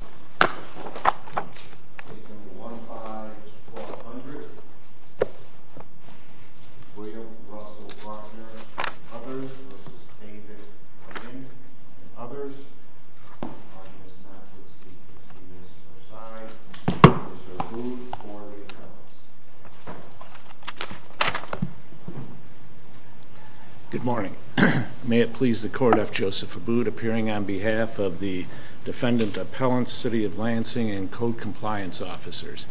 Case No. 15-400, William Russell Bruckner v. Others v. David Lundin v. Others. I guess not to receive this aside, Mr. Abboud for the appellants. Good morning. May it please the court, F. Joseph Abboud, appearing on behalf of the defendant appellants, City of Lansing, and Code Compliance officers.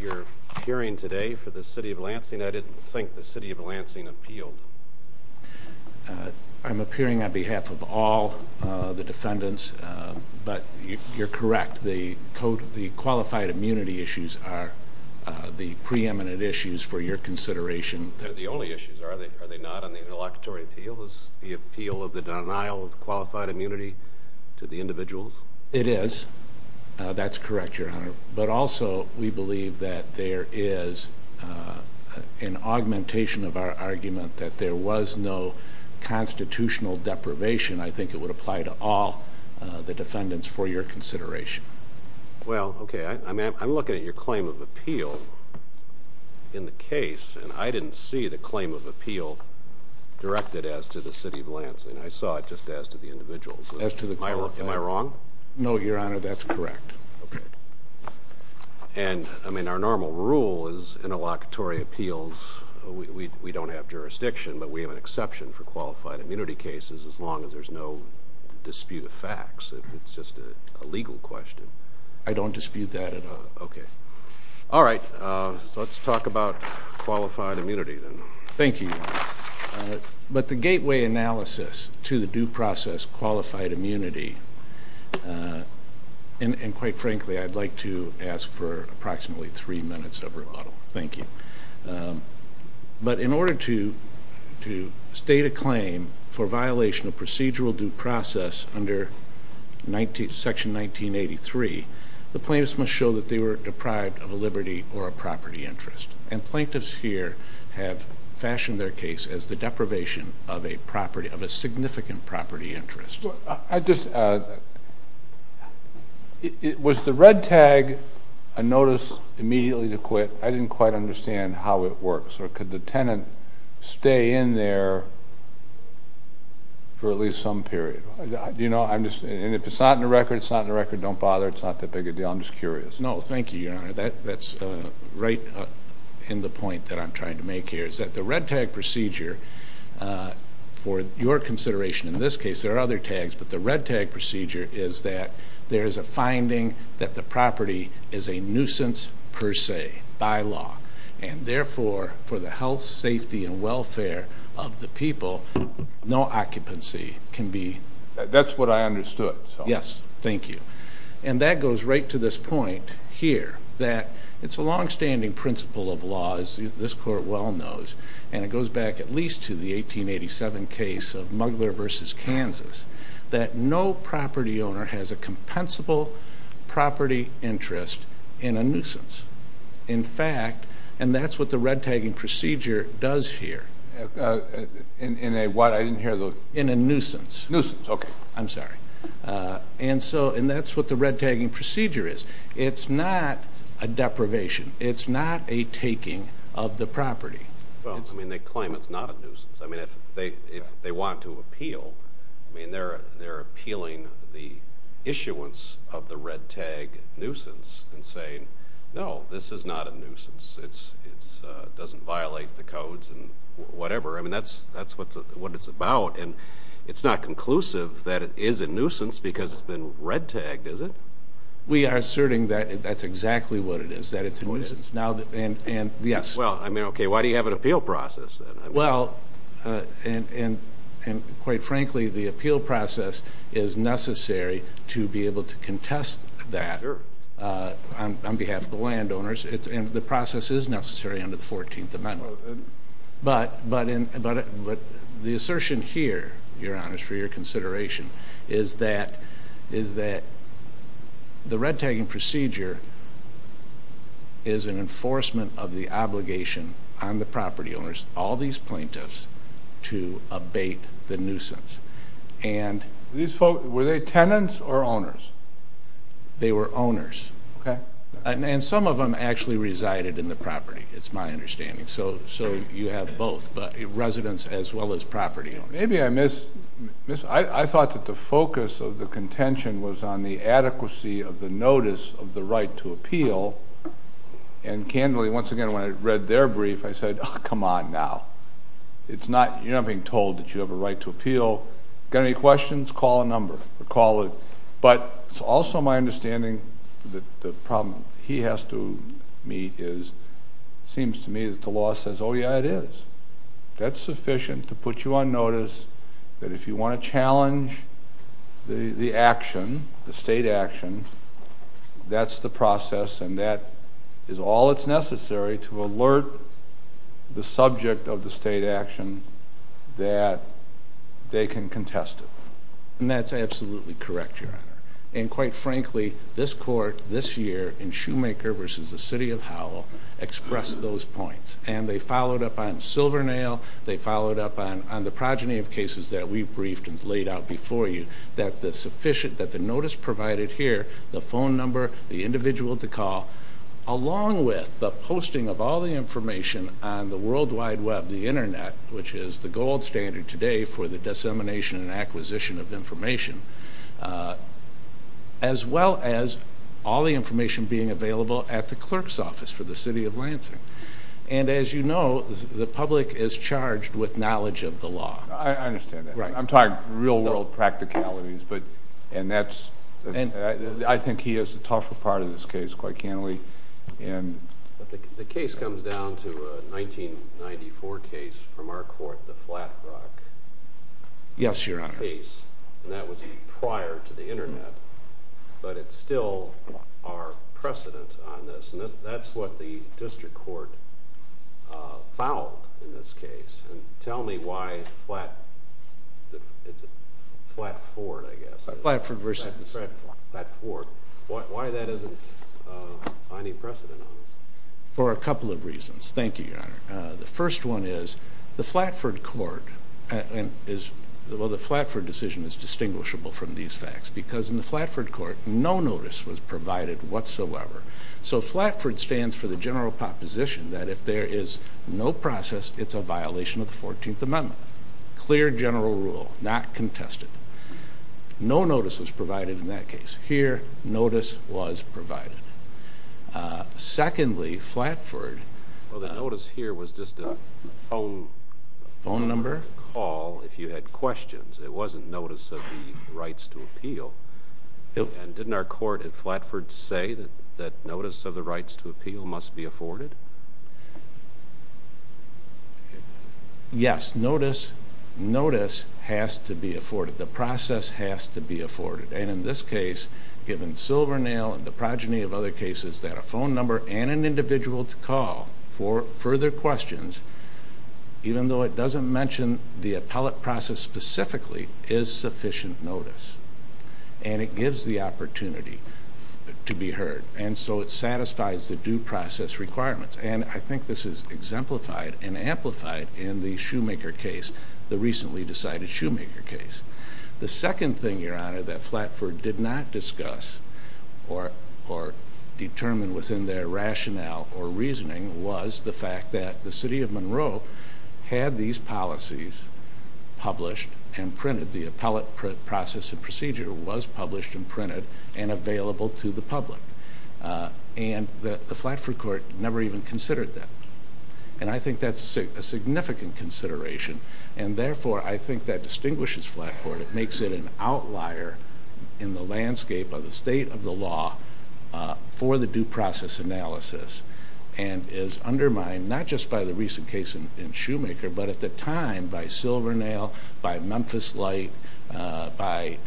You're appearing today for the City of Lansing. I didn't think the City of Lansing appealed. I'm appearing on behalf of all the defendants, but you're correct. The qualified immunity issues are the preeminent issues for your consideration. They're the only issues, are they not, on the interlocutory appeal? Is the appeal of the denial of qualified immunity to the individuals? It is. That's correct, Your Honor. But also, we believe that there is an augmentation of our argument that there was no constitutional deprivation. I think it would apply to all the defendants for your consideration. Well, okay. I'm looking at your claim of appeal in the case, and I didn't see the claim of appeal directed as to the City of Lansing. I saw it just as to the individuals. As to the qualified. Am I wrong? No, Your Honor. That's correct. Okay. And, I mean, our normal rule is interlocutory appeals, we don't have jurisdiction, but we have an exception for qualified immunity cases as long as there's no dispute of facts. It's just a legal question. I don't dispute that at all. Okay. All right. Let's talk about qualified immunity, then. Thank you, Your Honor. But the gateway analysis to the due process qualified immunity, and quite frankly, I'd like to ask for approximately three minutes of remodel. Thank you. But in order to state a claim for violation of procedural due process under Section 1983, the plaintiffs must show that they were deprived of a liberty or a property interest. And plaintiffs here have fashioned their case as the deprivation of a significant property interest. Was the red tag a notice immediately to quit? I didn't quite understand how it works. Or could the tenant stay in there for at least some period? And if it's not in the record, it's not in the record, don't bother, it's not that big a deal. I'm just curious. No, thank you, Your Honor. That's right in the point that I'm trying to make here. The red tag procedure, for your consideration in this case, there are other tags, but the red tag procedure is that there is a finding that the property is a nuisance per se by law. And therefore, for the health, safety, and welfare of the people, no occupancy can be. That's what I understood. Yes. Thank you. And that goes right to this point here, that it's a longstanding principle of law, as this Court well knows, and it goes back at least to the 1887 case of Mugler v. Kansas, that no property owner has a compensable property interest in a nuisance. In fact, and that's what the red tagging procedure does here. In a what? I didn't hear the word. In a nuisance. Nuisance, okay. I'm sorry. And that's what the red tagging procedure is. It's not a deprivation. It's not a taking of the property. Well, I mean, they claim it's not a nuisance. I mean, if they want to appeal, I mean, they're appealing the issuance of the red tag nuisance and saying, no, this is not a nuisance. It doesn't violate the codes and whatever. I mean, that's what it's about. And it's not conclusive that it is a nuisance because it's been red tagged, is it? We are asserting that that's exactly what it is, that it's a nuisance. Well, I mean, okay, why do you have an appeal process? Well, and quite frankly, the appeal process is necessary to be able to contest that on behalf of the landowners. And the process is necessary under the 14th Amendment. But the assertion here, Your Honors, for your consideration, is that the red tagging procedure is an enforcement of the obligation on the property owners, all these plaintiffs, to abate the nuisance. Were they tenants or owners? They were owners. And some of them actually resided in the property, it's my understanding. So you have both, residents as well as property owners. Maybe I thought that the focus of the contention was on the adequacy of the notice of the right to appeal. And candidly, once again, when I read their brief, I said, oh, come on now. You're not being told that you have a right to appeal. Got any questions? Call a number. But it's also my understanding that the problem he has to meet is, it seems to me that the law says, oh, yeah, it is. That's sufficient to put you on notice that if you want to challenge the action, the state action, that's the process and that is all that's necessary to alert the subject of the state action that they can contest it. And that's absolutely correct, Your Honor. And quite frankly, this court this year in Shoemaker versus the City of Howell expressed those points. And they followed up on Silvernail. They followed up on the progeny of cases that we briefed and laid out before you, that the notice provided here, the phone number, the individual to call, along with the posting of all the information on the World Wide Web, the Internet, which is the gold standard today for the dissemination and acquisition of information, as well as all the information being available at the clerk's office for the City of Lansing. And as you know, the public is charged with knowledge of the law. I understand that. I'm talking real-world practicalities. And I think he is the tougher part of this case, quite candidly. The case comes down to a 1994 case from our court, the Flat Rock case. Yes, Your Honor. And that was prior to the Internet. But it's still our precedent on this. And that's what the district court fouled in this case. And tell me why Flat Ford, I guess. Flatford versus. Why that isn't any precedent on this? For a couple of reasons. Thank you, Your Honor. The first one is the Flatford court is, well, the Flatford decision is distinguishable from these facts because in the Flatford court, no notice was provided whatsoever. So Flatford stands for the general proposition that if there is no process, it's a violation of the 14th Amendment. Clear general rule, not contested. No notice was provided in that case. Here, notice was provided. Secondly, Flatford. Well, the notice here was just a phone call if you had questions. It wasn't notice of the rights to appeal. And didn't our court at Flatford say that notice of the rights to appeal must be afforded? Yes, notice has to be afforded. The process has to be afforded. And in this case, given Silvernail and the progeny of other cases, that a phone number and an individual to call for further questions, even though it doesn't mention the appellate process specifically, is sufficient notice. And it gives the opportunity to be heard. And so it satisfies the due process requirements. And I think this is exemplified and amplified in the Shoemaker case, the recently decided Shoemaker case. The second thing, Your Honor, that Flatford did not discuss or determine within their rationale or reasoning was the fact that the city of Monroe had these policies published and printed. The appellate process and procedure was published and printed and available to the public. And the Flatford court never even considered that. And I think that's a significant consideration. And therefore, I think that distinguishes Flatford. It makes it an outlier in the landscape of the state of the law for the due process analysis. And is undermined not just by the recent case in Shoemaker, but at the time by Silvernail, by Memphis Light, by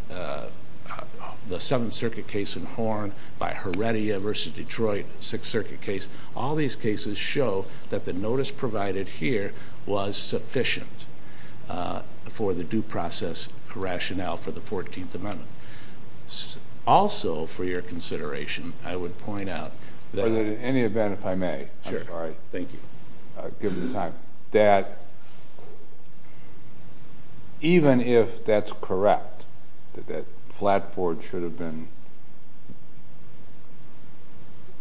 the Seventh Circuit case in Horn, by Heredia v. Detroit, Sixth Circuit case. All these cases show that the notice provided here was sufficient for the due process rationale for the 14th Amendment. Also, for your consideration, I would point out that... In any event, if I may, I'm sorry. Sure. Thank you. Given the time. That even if that's correct, that Flatford should have been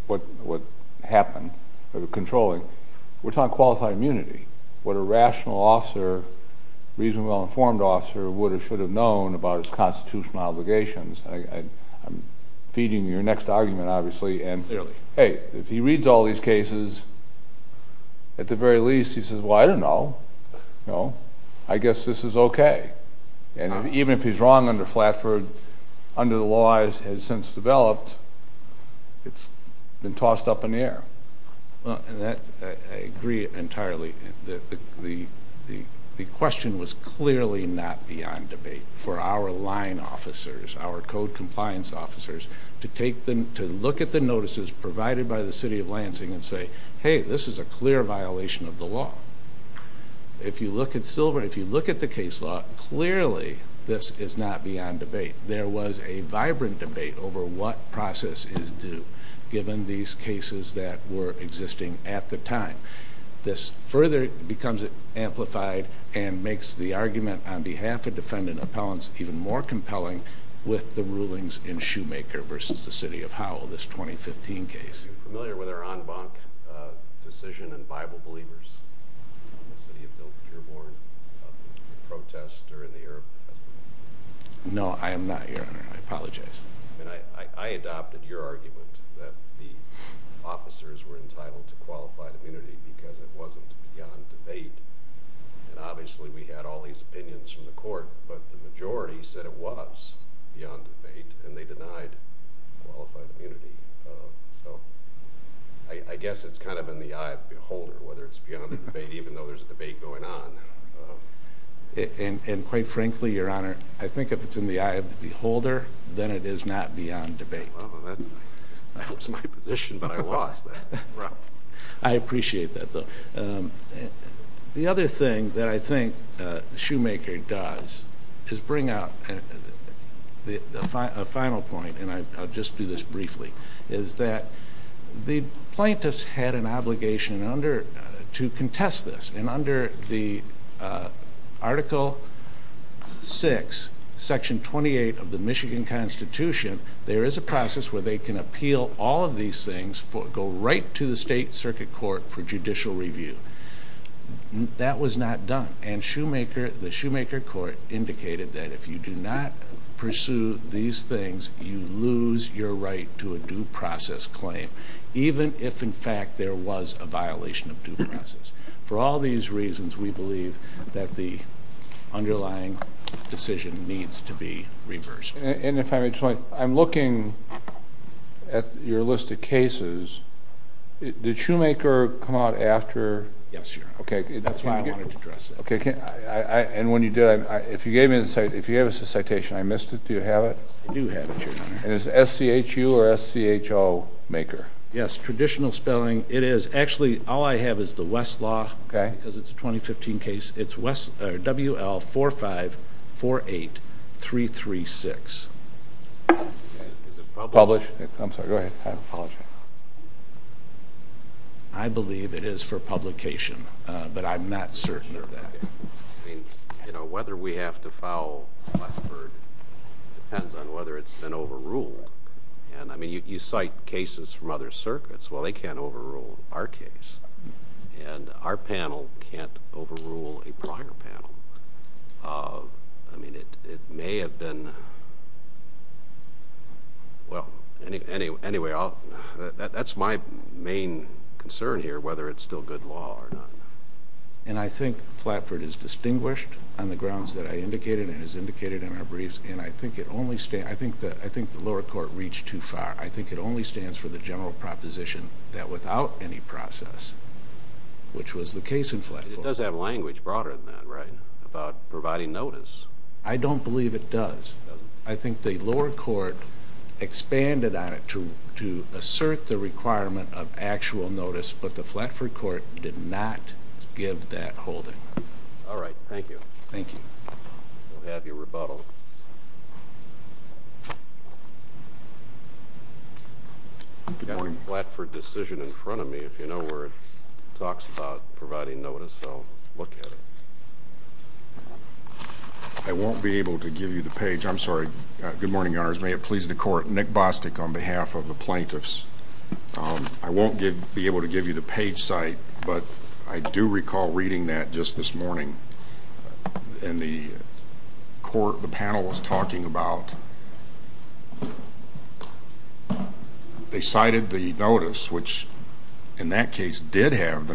what happened, controlling, we're talking qualified immunity. What a rational officer, reasonably well-informed officer, would or should have known about his constitutional obligations. I'm feeding your next argument, obviously. Clearly. Hey, if he reads all these cases, at the very least, he says, Well, I don't know. I guess this is okay. And even if he's wrong under Flatford, under the laws it has since developed, it's been tossed up in the air. I agree entirely. The question was clearly not beyond debate for our line officers, our code compliance officers, to look at the notices provided by the City of Lansing and say, Hey, this is a clear violation of the law. If you look at Silver, if you look at the case law, clearly this is not beyond debate. There was a vibrant debate over what process is due, given these cases that were existing at the time. This further becomes amplified and makes the argument on behalf of defendant appellants even more compelling with the rulings in Shoemaker versus the City of Howell, this 2015 case. Are you familiar with our en banc decision in Bible Believers in the City of Dilbert-Dearborn, the protest during the Arab Presidential? No, I am not, Your Honor. I apologize. I adopted your argument that the officers were entitled to qualified immunity because it wasn't beyond debate. Obviously, we had all these opinions from the court, but the majority said it was beyond debate, and they denied qualified immunity. So I guess it's kind of in the eye of the beholder, whether it's beyond the debate, even though there's a debate going on. And quite frankly, Your Honor, I think if it's in the eye of the beholder, then it is not beyond debate. Well, that was my position, but I lost that round. I appreciate that, though. The other thing that I think Shoemaker does is bring out a final point, and I'll just do this briefly, is that the plaintiffs had an obligation to contest this. And under Article VI, Section 28 of the Michigan Constitution, there is a process where they can appeal all of these things, go right to the state circuit court for judicial review. That was not done. And the Shoemaker court indicated that if you do not pursue these things, you lose your right to a due process claim, even if, in fact, there was a violation of due process. For all these reasons, we believe that the underlying decision needs to be reversed. And if I may just point, I'm looking at your list of cases. Did Shoemaker come out after? Yes, Your Honor. Okay. That's why I wanted to address that. And when you did, if you gave us a citation, I missed it. Do you have it? I do have it, Your Honor. And is it S-C-H-U or S-C-H-O, Shoemaker? Yes, traditional spelling. It is. Actually, all I have is the Westlaw because it's a 2015 case. It's W-L-4-5-4-8-3-3-6. Is it published? I'm sorry. Go ahead. I apologize. I believe it is for publication, but I'm not certain of that. Whether we have to file Flatford depends on whether it's been overruled. You cite cases from other circuits. Well, they can't overrule our case. And our panel can't overrule a prior panel. It may have been... Well, anyway, that's my main concern here, whether it's still good law or not. And I think Flatford is distinguished on the grounds that I indicated and as indicated in our briefs. And I think the lower court reached too far. I think it only stands for the general proposition that without any process, which was the case in Flatford... It does have language broader than that, right, about providing notice. I don't believe it does. I think the lower court expanded on it to assert the requirement of actual notice, but the Flatford court did not give that holding. All right. Thank you. Thank you. We'll have your rebuttal. We've got a Flatford decision in front of me. If you know where it talks about providing notice, I'll look at it. I won't be able to give you the page. I'm sorry. Good morning, Your Honors. May it please the Court. Nick Bostic on behalf of the plaintiffs. I won't be able to give you the page site, but I do recall reading that just this morning in the court. The panel was talking about they cited the notice, which in that case did have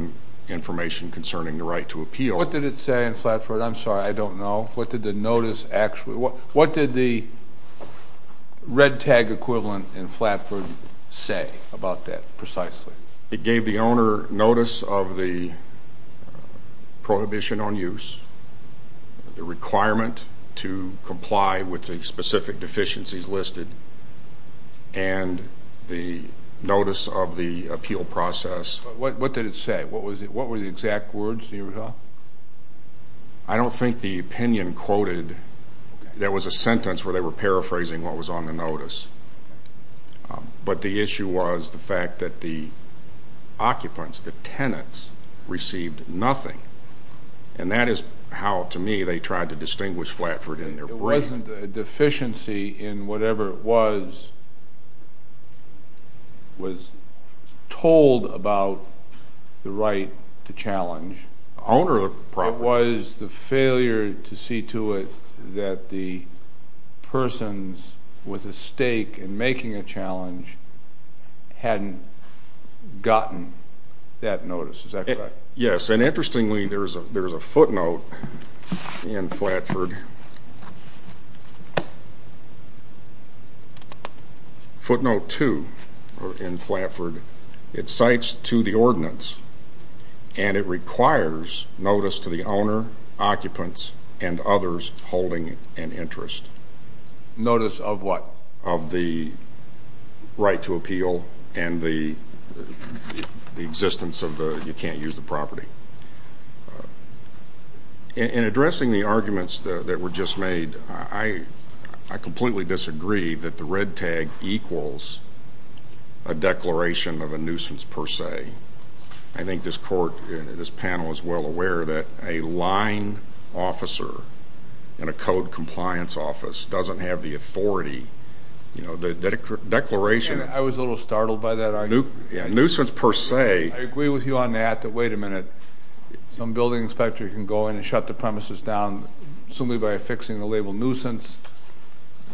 information concerning the right to appeal. What did it say in Flatford? I'm sorry. What did the notice actually... What did the red tag equivalent in Flatford say about that precisely? It gave the owner notice of the prohibition on use, the requirement to comply with the specific deficiencies listed, and the notice of the appeal process. What did it say? What were the exact words in your rebuttal? I don't think the opinion quoted... There was a sentence where they were paraphrasing what was on the notice. But the issue was the fact that the occupants, the tenants, received nothing. And that is how, to me, they tried to distinguish Flatford in their brief. There wasn't a deficiency in whatever was told about the right to challenge. The owner of the property... It was the failure to see to it that the persons with a stake in making a challenge hadn't gotten that notice. Is that correct? Yes. And interestingly, there's a footnote in Flatford, footnote 2 in Flatford. It cites to the ordinance, and it requires notice to the owner, occupants, and others holding an interest. Notice of what? Of the right to appeal and the existence of the you-can't-use-the-property. In addressing the arguments that were just made, I completely disagree that the red tag equals a declaration of a nuisance per se. I think this panel is well aware that a line officer in a code compliance office doesn't have the authority. The declaration... I was a little startled by that argument. A nuisance per se... I agree with you on that, that, wait a minute, some building inspector can go in and shut the premises down simply by affixing the label nuisance.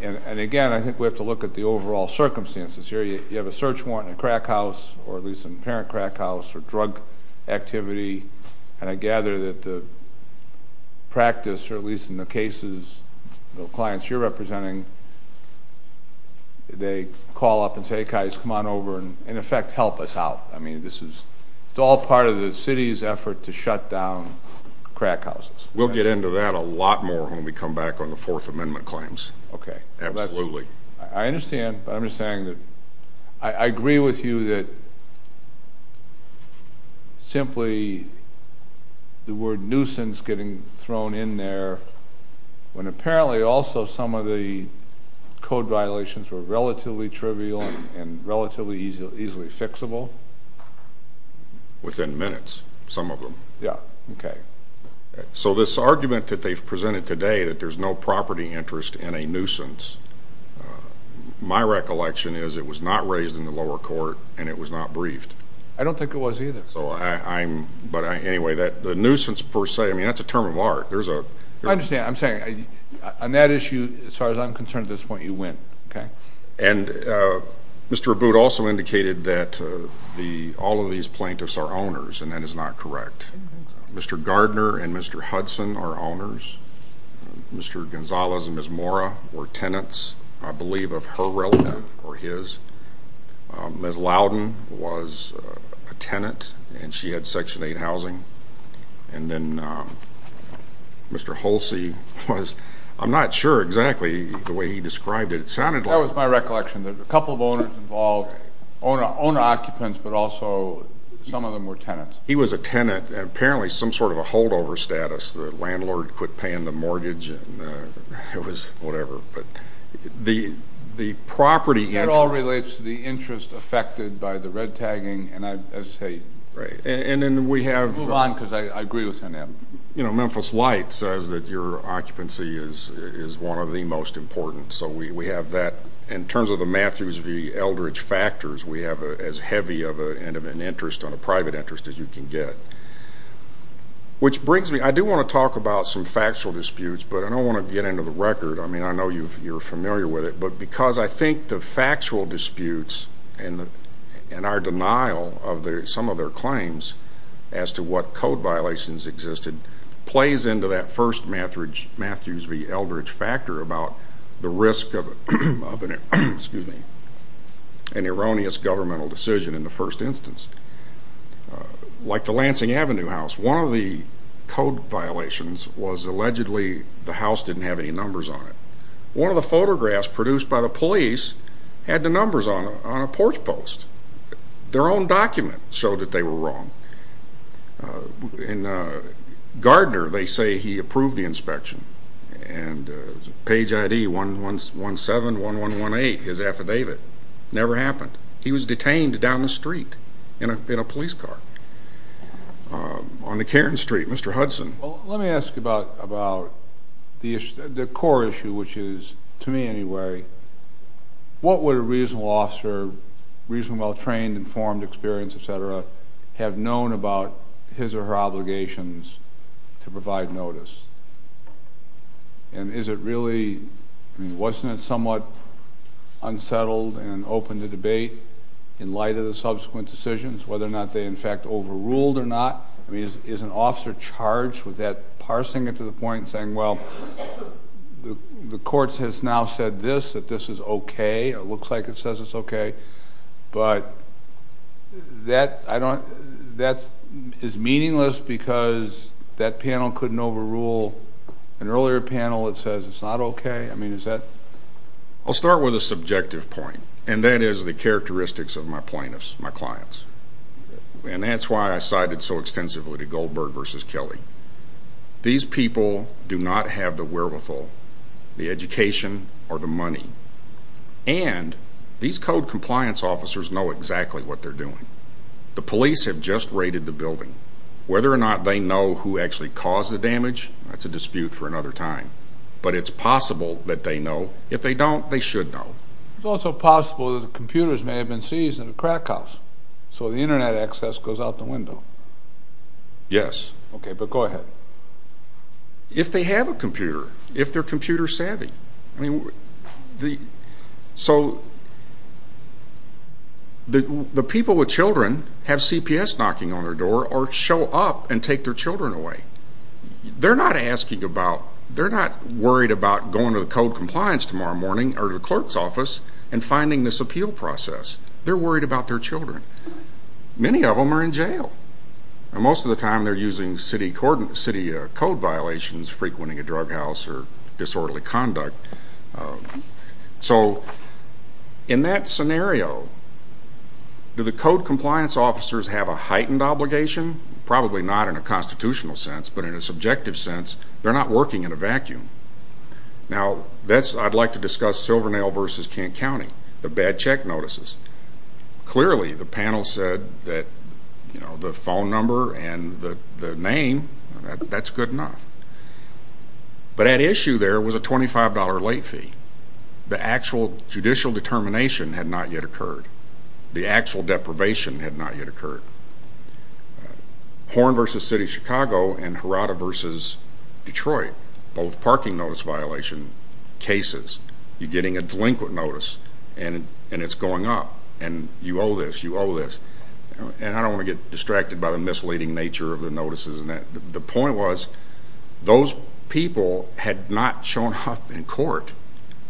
And, again, I think we have to look at the overall circumstances here. You have a search warrant in a crack house, or at least an apparent crack house, or drug activity, and I gather that the practice, or at least in the cases of clients you're representing, they call up and say, Hey, guys, come on over and, in effect, help us out. I mean, it's all part of the city's effort to shut down crack houses. We'll get into that a lot more when we come back on the Fourth Amendment claims. Okay. Absolutely. I understand, but I'm just saying that I agree with you that simply the word nuisance getting thrown in there when apparently also some of the code violations were relatively trivial and relatively easily fixable. Within minutes, some of them. Yeah. Okay. So this argument that they've presented today that there's no property interest in a nuisance, my recollection is it was not raised in the lower court and it was not briefed. I don't think it was either. But, anyway, the nuisance per se, I mean, that's a term of art. I understand. I'm saying on that issue, as far as I'm concerned at this point, you win. And Mr. Abboud also indicated that all of these plaintiffs are owners, and that is not correct. Mr. Gardner and Mr. Hudson are owners. Mr. Gonzalez and Ms. Mora were tenants, I believe, of her relative or his. Ms. Loudon was a tenant, and she had Section 8 housing. And then Mr. Holsey was. I'm not sure exactly the way he described it. It sounded like. That was my recollection. There were a couple of owners involved, owner-occupants, but also some of them were tenants. He was a tenant and apparently some sort of a holdover status. The landlord quit paying the mortgage and it was whatever. But the property interest. That all relates to the interest affected by the red tagging. And then we have. Move on because I agree with him. Memphis Light says that your occupancy is one of the most important. So we have that. In terms of the Matthews v. Eldridge factors, we have as heavy of an interest on a private interest as you can get. Which brings me. I do want to talk about some factual disputes, but I don't want to get into the record. I mean, I know you're familiar with it. But because I think the factual disputes and our denial of some of their claims as to what code violations existed, plays into that first Matthews v. Eldridge factor about the risk of an erroneous governmental decision in the first instance. Like the Lansing Avenue house. One of the code violations was allegedly the house didn't have any numbers on it. One of the photographs produced by the police had the numbers on a porch post. Their own document showed that they were wrong. In Gardner, they say he approved the inspection. And page ID 117118, his affidavit. Never happened. He was detained down the street in a police car. On the Cairns Street. Mr. Hudson. Well, let me ask about the core issue, which is, to me anyway, what would a reasonable officer, reasonably well trained, informed, experienced, et cetera, have known about his or her obligations to provide notice? And is it really, wasn't it somewhat unsettled and open to debate in light of the subsequent decisions, whether or not they in fact overruled or not? I mean, is an officer charged with that? Parsing it to the point and saying, well, the court has now said this, that this is okay. It looks like it says it's okay. But that is meaningless because that panel couldn't overrule an earlier panel that says it's not okay. I mean, is that? I'll start with a subjective point, and that is the characteristics of my plaintiffs, my clients. And that's why I cited so extensively to Goldberg v. Kelly. These people do not have the wherewithal, the education, or the money. And these code compliance officers know exactly what they're doing. The police have just raided the building. Whether or not they know who actually caused the damage, that's a dispute for another time. But it's possible that they know. If they don't, they should know. It's also possible that the computers may have been seized in the crack house, so the Internet access goes out the window. Yes. Okay, but go ahead. If they have a computer, if they're computer savvy. So the people with children have CPS knocking on their door or show up and take their children away. They're not asking about, they're not worried about going to the code compliance tomorrow morning or to the clerk's office and finding this appeal process. They're worried about their children. Many of them are in jail. And most of the time they're using city code violations, frequenting a drug house or disorderly conduct. So in that scenario, do the code compliance officers have a heightened obligation? Probably not in a constitutional sense, but in a subjective sense, they're not working in a vacuum. Now, I'd like to discuss Silvernail v. Kent County, the bad check notices. Clearly the panel said that the phone number and the name, that's good enough. But at issue there was a $25 late fee. The actual judicial determination had not yet occurred. The actual deprivation had not yet occurred. Horn v. City of Chicago and Harada v. Detroit, both parking notice violation cases, you're getting a delinquent notice and it's going up, and you owe this, you owe this. And I don't want to get distracted by the misleading nature of the notices. The point was those people had not shown up in court.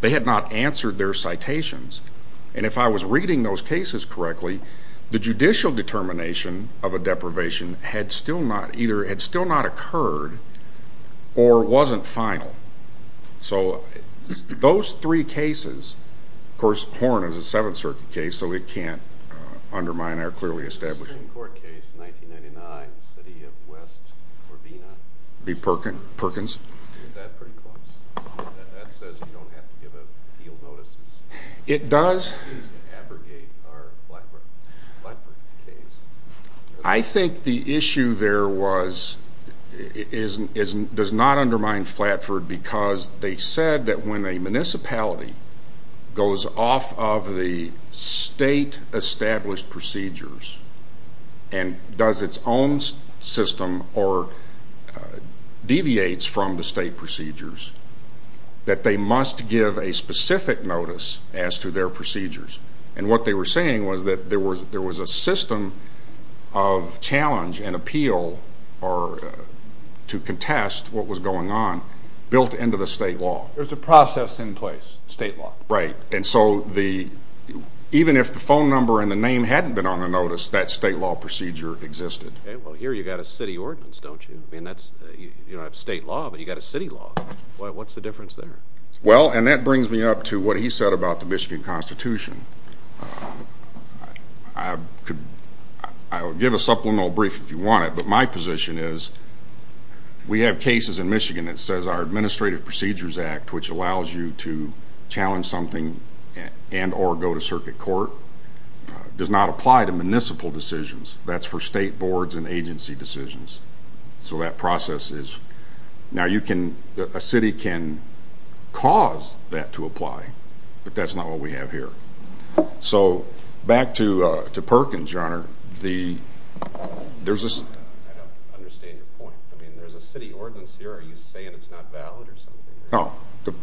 They had not answered their citations. And if I was reading those cases correctly, the judicial determination of a deprivation had still not occurred or wasn't final. So those three cases, of course Horn is a Seventh Circuit case, so it can't undermine our clearly establishing. The Supreme Court case, 1999, City of West Corvina. B. Perkins. Is that pretty close? That says you don't have to give appeal notices. It does abrogate our Flatford case. I think the issue there does not undermine Flatford because they said that when a municipality goes off of the state-established procedures and does its own system or deviates from the state procedures, that they must give a specific notice as to their procedures. And what they were saying was that there was a system of challenge and appeal to contest what was going on built into the state law. There's a process in place, state law. Right. And so even if the phone number and the name hadn't been on the notice, that state law procedure existed. Well, here you've got a city ordinance, don't you? You don't have state law, but you've got a city law. What's the difference there? Well, and that brings me up to what he said about the Michigan Constitution. I would give a supplemental brief if you want it, but my position is we have cases in Michigan that says our Administrative Procedures Act, which allows you to challenge something and or go to circuit court, does not apply to municipal decisions. That's for state boards and agency decisions. So that process is ñ now a city can cause that to apply, but that's not what we have here. So back to Perkins, Your Honor. I don't understand your point. I mean, there's a city ordinance here. Are you saying it's not valid or something? No.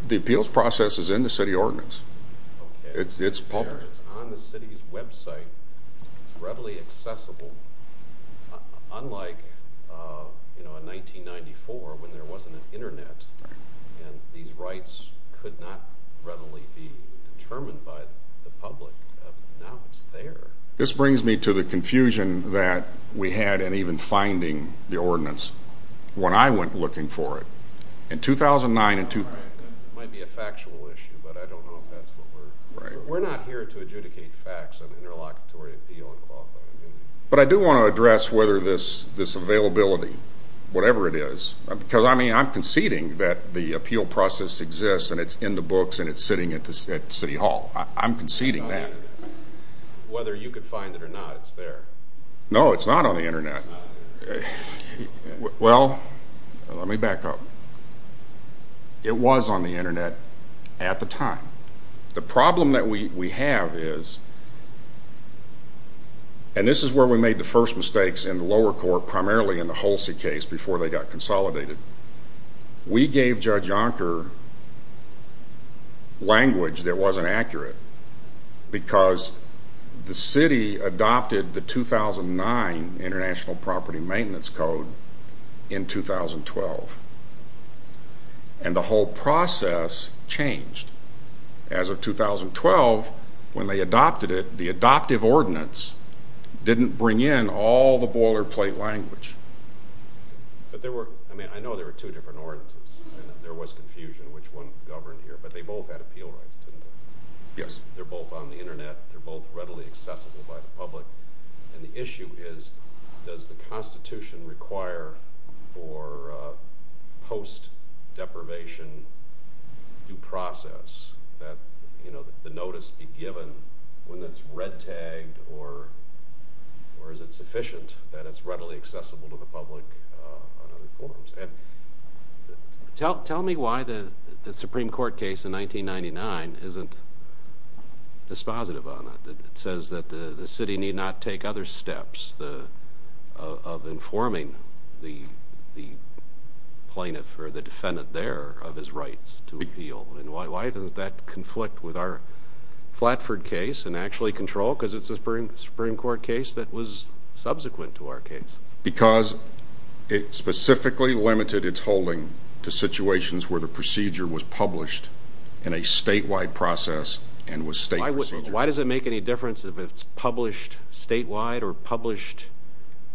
The appeals process is in the city ordinance. Okay. It's on the city's website. It's readily accessible, unlike, you know, in 1994 when there wasn't an Internet and these rights could not readily be determined by the public. Now it's there. This brings me to the confusion that we had in even finding the ordinance when I went looking for it. In 2009 and ñ It might be a factual issue, but I don't know if that's what we're ñ But I do want to address whether this availability, whatever it is, because, I mean, I'm conceding that the appeal process exists and it's in the books and it's sitting at City Hall. I'm conceding that. Whether you could find it or not, it's there. No, it's not on the Internet. Well, let me back up. It was on the Internet at the time. The problem that we have is, and this is where we made the first mistakes in the lower court, primarily in the Holsey case before they got consolidated. We gave Judge Yonker language that wasn't accurate because the city adopted the 2009 International Property Maintenance Code in 2012, and the whole process changed. As of 2012, when they adopted it, the adoptive ordinance didn't bring in all the boilerplate language. But there were ñ I mean, I know there were two different ordinances and there was confusion which one governed here, but they both had appeal rights, didn't they? Yes. They're both on the Internet. They're both readily accessible by the public. And the issue is, does the Constitution require for post-deprivation due process that the notice be given when it's red-tagged, or is it sufficient that it's readily accessible to the public on other forms? Tell me why the Supreme Court case in 1999 isn't dispositive on that. It says that the city need not take other steps of informing the plaintiff or the defendant there of his rights to appeal. And why does that conflict with our Flatford case and actually control? Because it's a Supreme Court case that was subsequent to our case. Because it specifically limited its holding to situations where the procedure was published in a statewide process and was state procedure. Why does it make any difference if it's published statewide or published ñ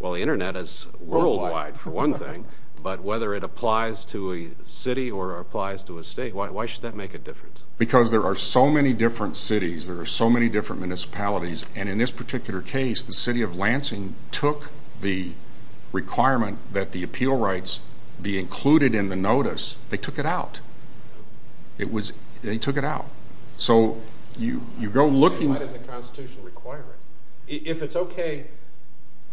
well, the Internet is worldwide for one thing, but whether it applies to a city or applies to a state, why should that make a difference? Because there are so many different cities, there are so many different municipalities, and in this particular case the city of Lansing took the requirement that the appeal rights be included in the notice. They took it out. They took it out. So you go looking... Why does the Constitution require it? If it's okay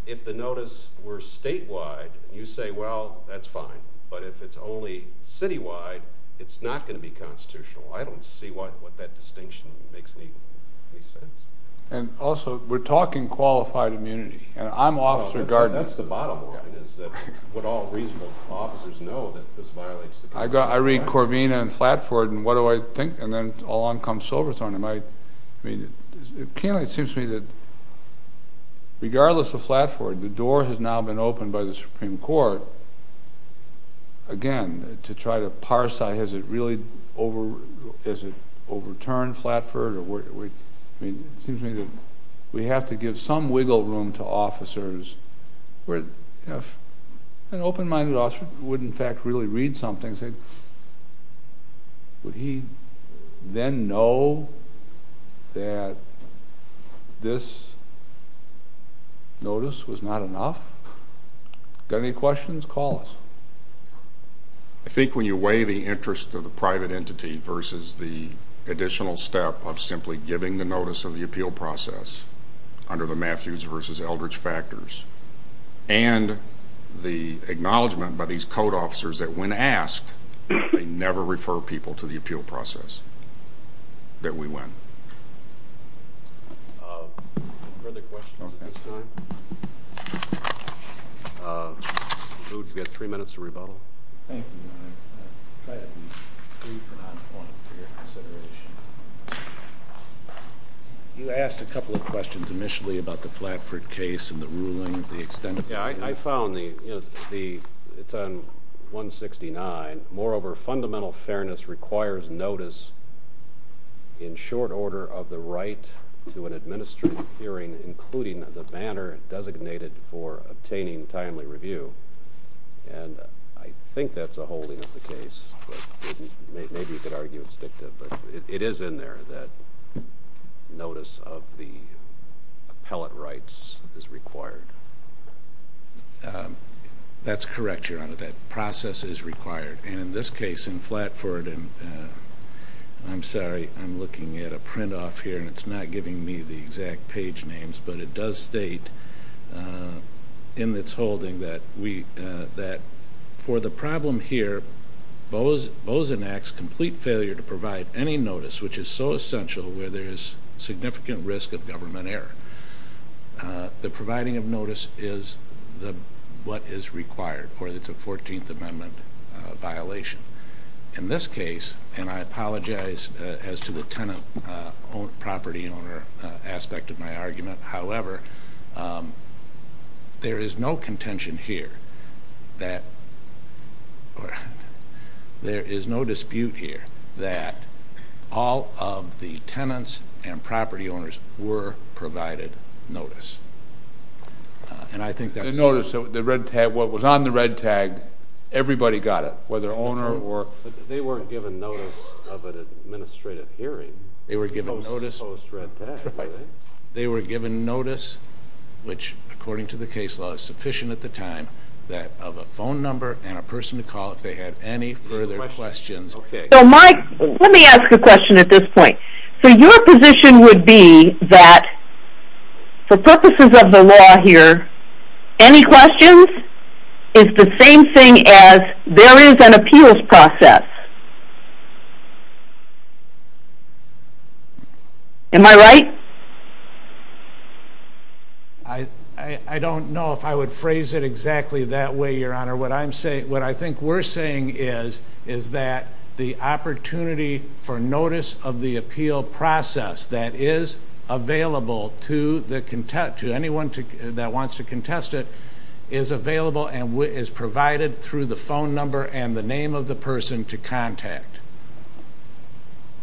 if the notice were statewide, you say, well, that's fine. But if it's only citywide, it's not going to be constitutional. I don't see what that distinction makes any sense. And also we're talking qualified immunity, and I'm Officer Gardner. That's the bottom line is that what all reasonable officers know, that this violates the Constitution. I read Corvina and Flatford and what do I think, and then along comes Silverthorne. It seems to me that regardless of Flatford, the door has now been opened by the Supreme Court, again, to try to parse, has it really overturned Flatford? It seems to me that we have to give some wiggle room to officers. An open-minded officer would, in fact, really read something and say, would he then know that this notice was not enough? Got any questions? Call us. I think when you weigh the interest of the private entity versus the additional step of simply giving the notice of the appeal process under the Matthews versus Eldridge factors and the acknowledgment by these code officers that when asked, they never refer people to the appeal process, that we win. Further questions at this time? You've got three minutes to rebuttal. Thank you, Your Honor. Try to be brief and on point for your consideration. You asked a couple of questions initially about the Flatford case and the ruling, the extent of the ruling. I found it's on 169. Moreover, fundamental fairness requires notice in short order of the right to an administrative hearing, including the banner designated for obtaining timely review, and I think that's a holding of the case. Maybe you could argue it's dictative, but it is in there that notice of the appellate rights is required. That's correct, Your Honor, that process is required. And in this case in Flatford, I'm sorry, I'm looking at a print-off here, and it's not giving me the exact page names, but it does state in its holding that for the problem here, Bozen Act's complete failure to provide any notice which is so essential where there is significant risk of government error. The providing of notice is what is required, or it's a 14th Amendment violation. In this case, and I apologize as to the tenant property and owner aspect of my argument, however, there is no contention here that or there is no dispute here that all of the tenants and property owners were provided notice. And I think that's true. The notice, the red tag, what was on the red tag, everybody got it, whether owner or... They weren't given notice of an administrative hearing. They were given notice... Post red tag, right? They were given notice, which, according to the case law, is sufficient at the time of a phone number and a person to call if they had any further questions. So, Mike, let me ask a question at this point. So your position would be that for purposes of the law here, any questions is the same thing as there is an appeals process. Am I right? I don't know if I would phrase it exactly that way, Your Honor. What I think we're saying is that the opportunity for notice of the appeal process that is available to anyone that wants to contest it is available and is provided through the phone number and the name of the person to contact.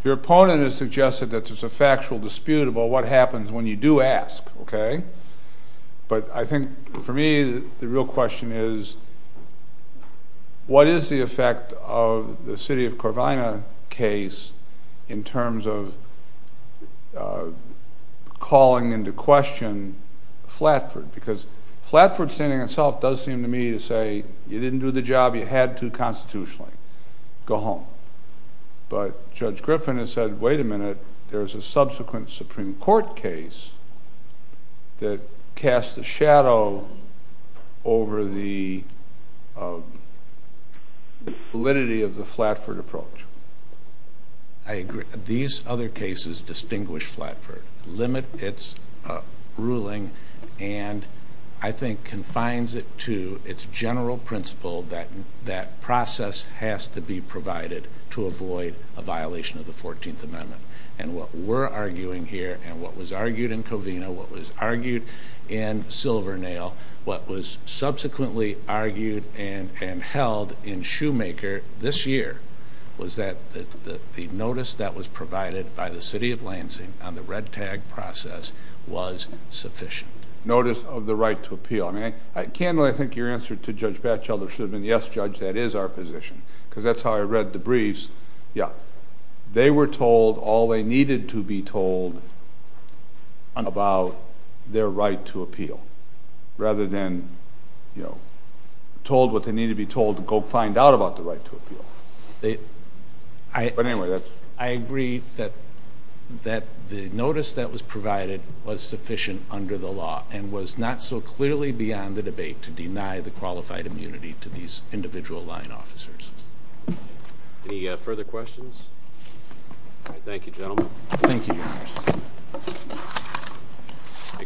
Your opponent has suggested that there's a factual dispute about what happens when you do ask, okay? But I think for me the real question is, what is the effect of the city of Corvina case in terms of calling into question Flatford? Because Flatford standing itself does seem to me to say, you didn't do the job you had to constitutionally. Go home. But Judge Griffin has said, wait a minute, there's a subsequent Supreme Court case that casts a shadow over the validity of the Flatford approach. I agree. These other cases distinguish Flatford, limit its ruling, and I think confines it to its general principle that that process has to be provided to avoid a violation of the 14th Amendment. And what we're arguing here and what was argued in Corvina, what was argued in Silvernail, what was subsequently argued and held in Shoemaker this year was that the notice that was provided by the city of Lansing on the red tag process was sufficient. Notice of the right to appeal. Candle, I think your answer to Judge Batchelder should have been, yes, Judge, that is our position, because that's how I read the briefs. Yeah. They were told all they needed to be told about their right to appeal rather than told what they need to be told to go find out about the right to appeal. But anyway, that's... I agree that the notice that was provided was sufficient under the law and was not so clearly beyond the debate to deny the qualified immunity to these individual line officers. Any further questions? All right, thank you, gentlemen. Thank you, Your Honor.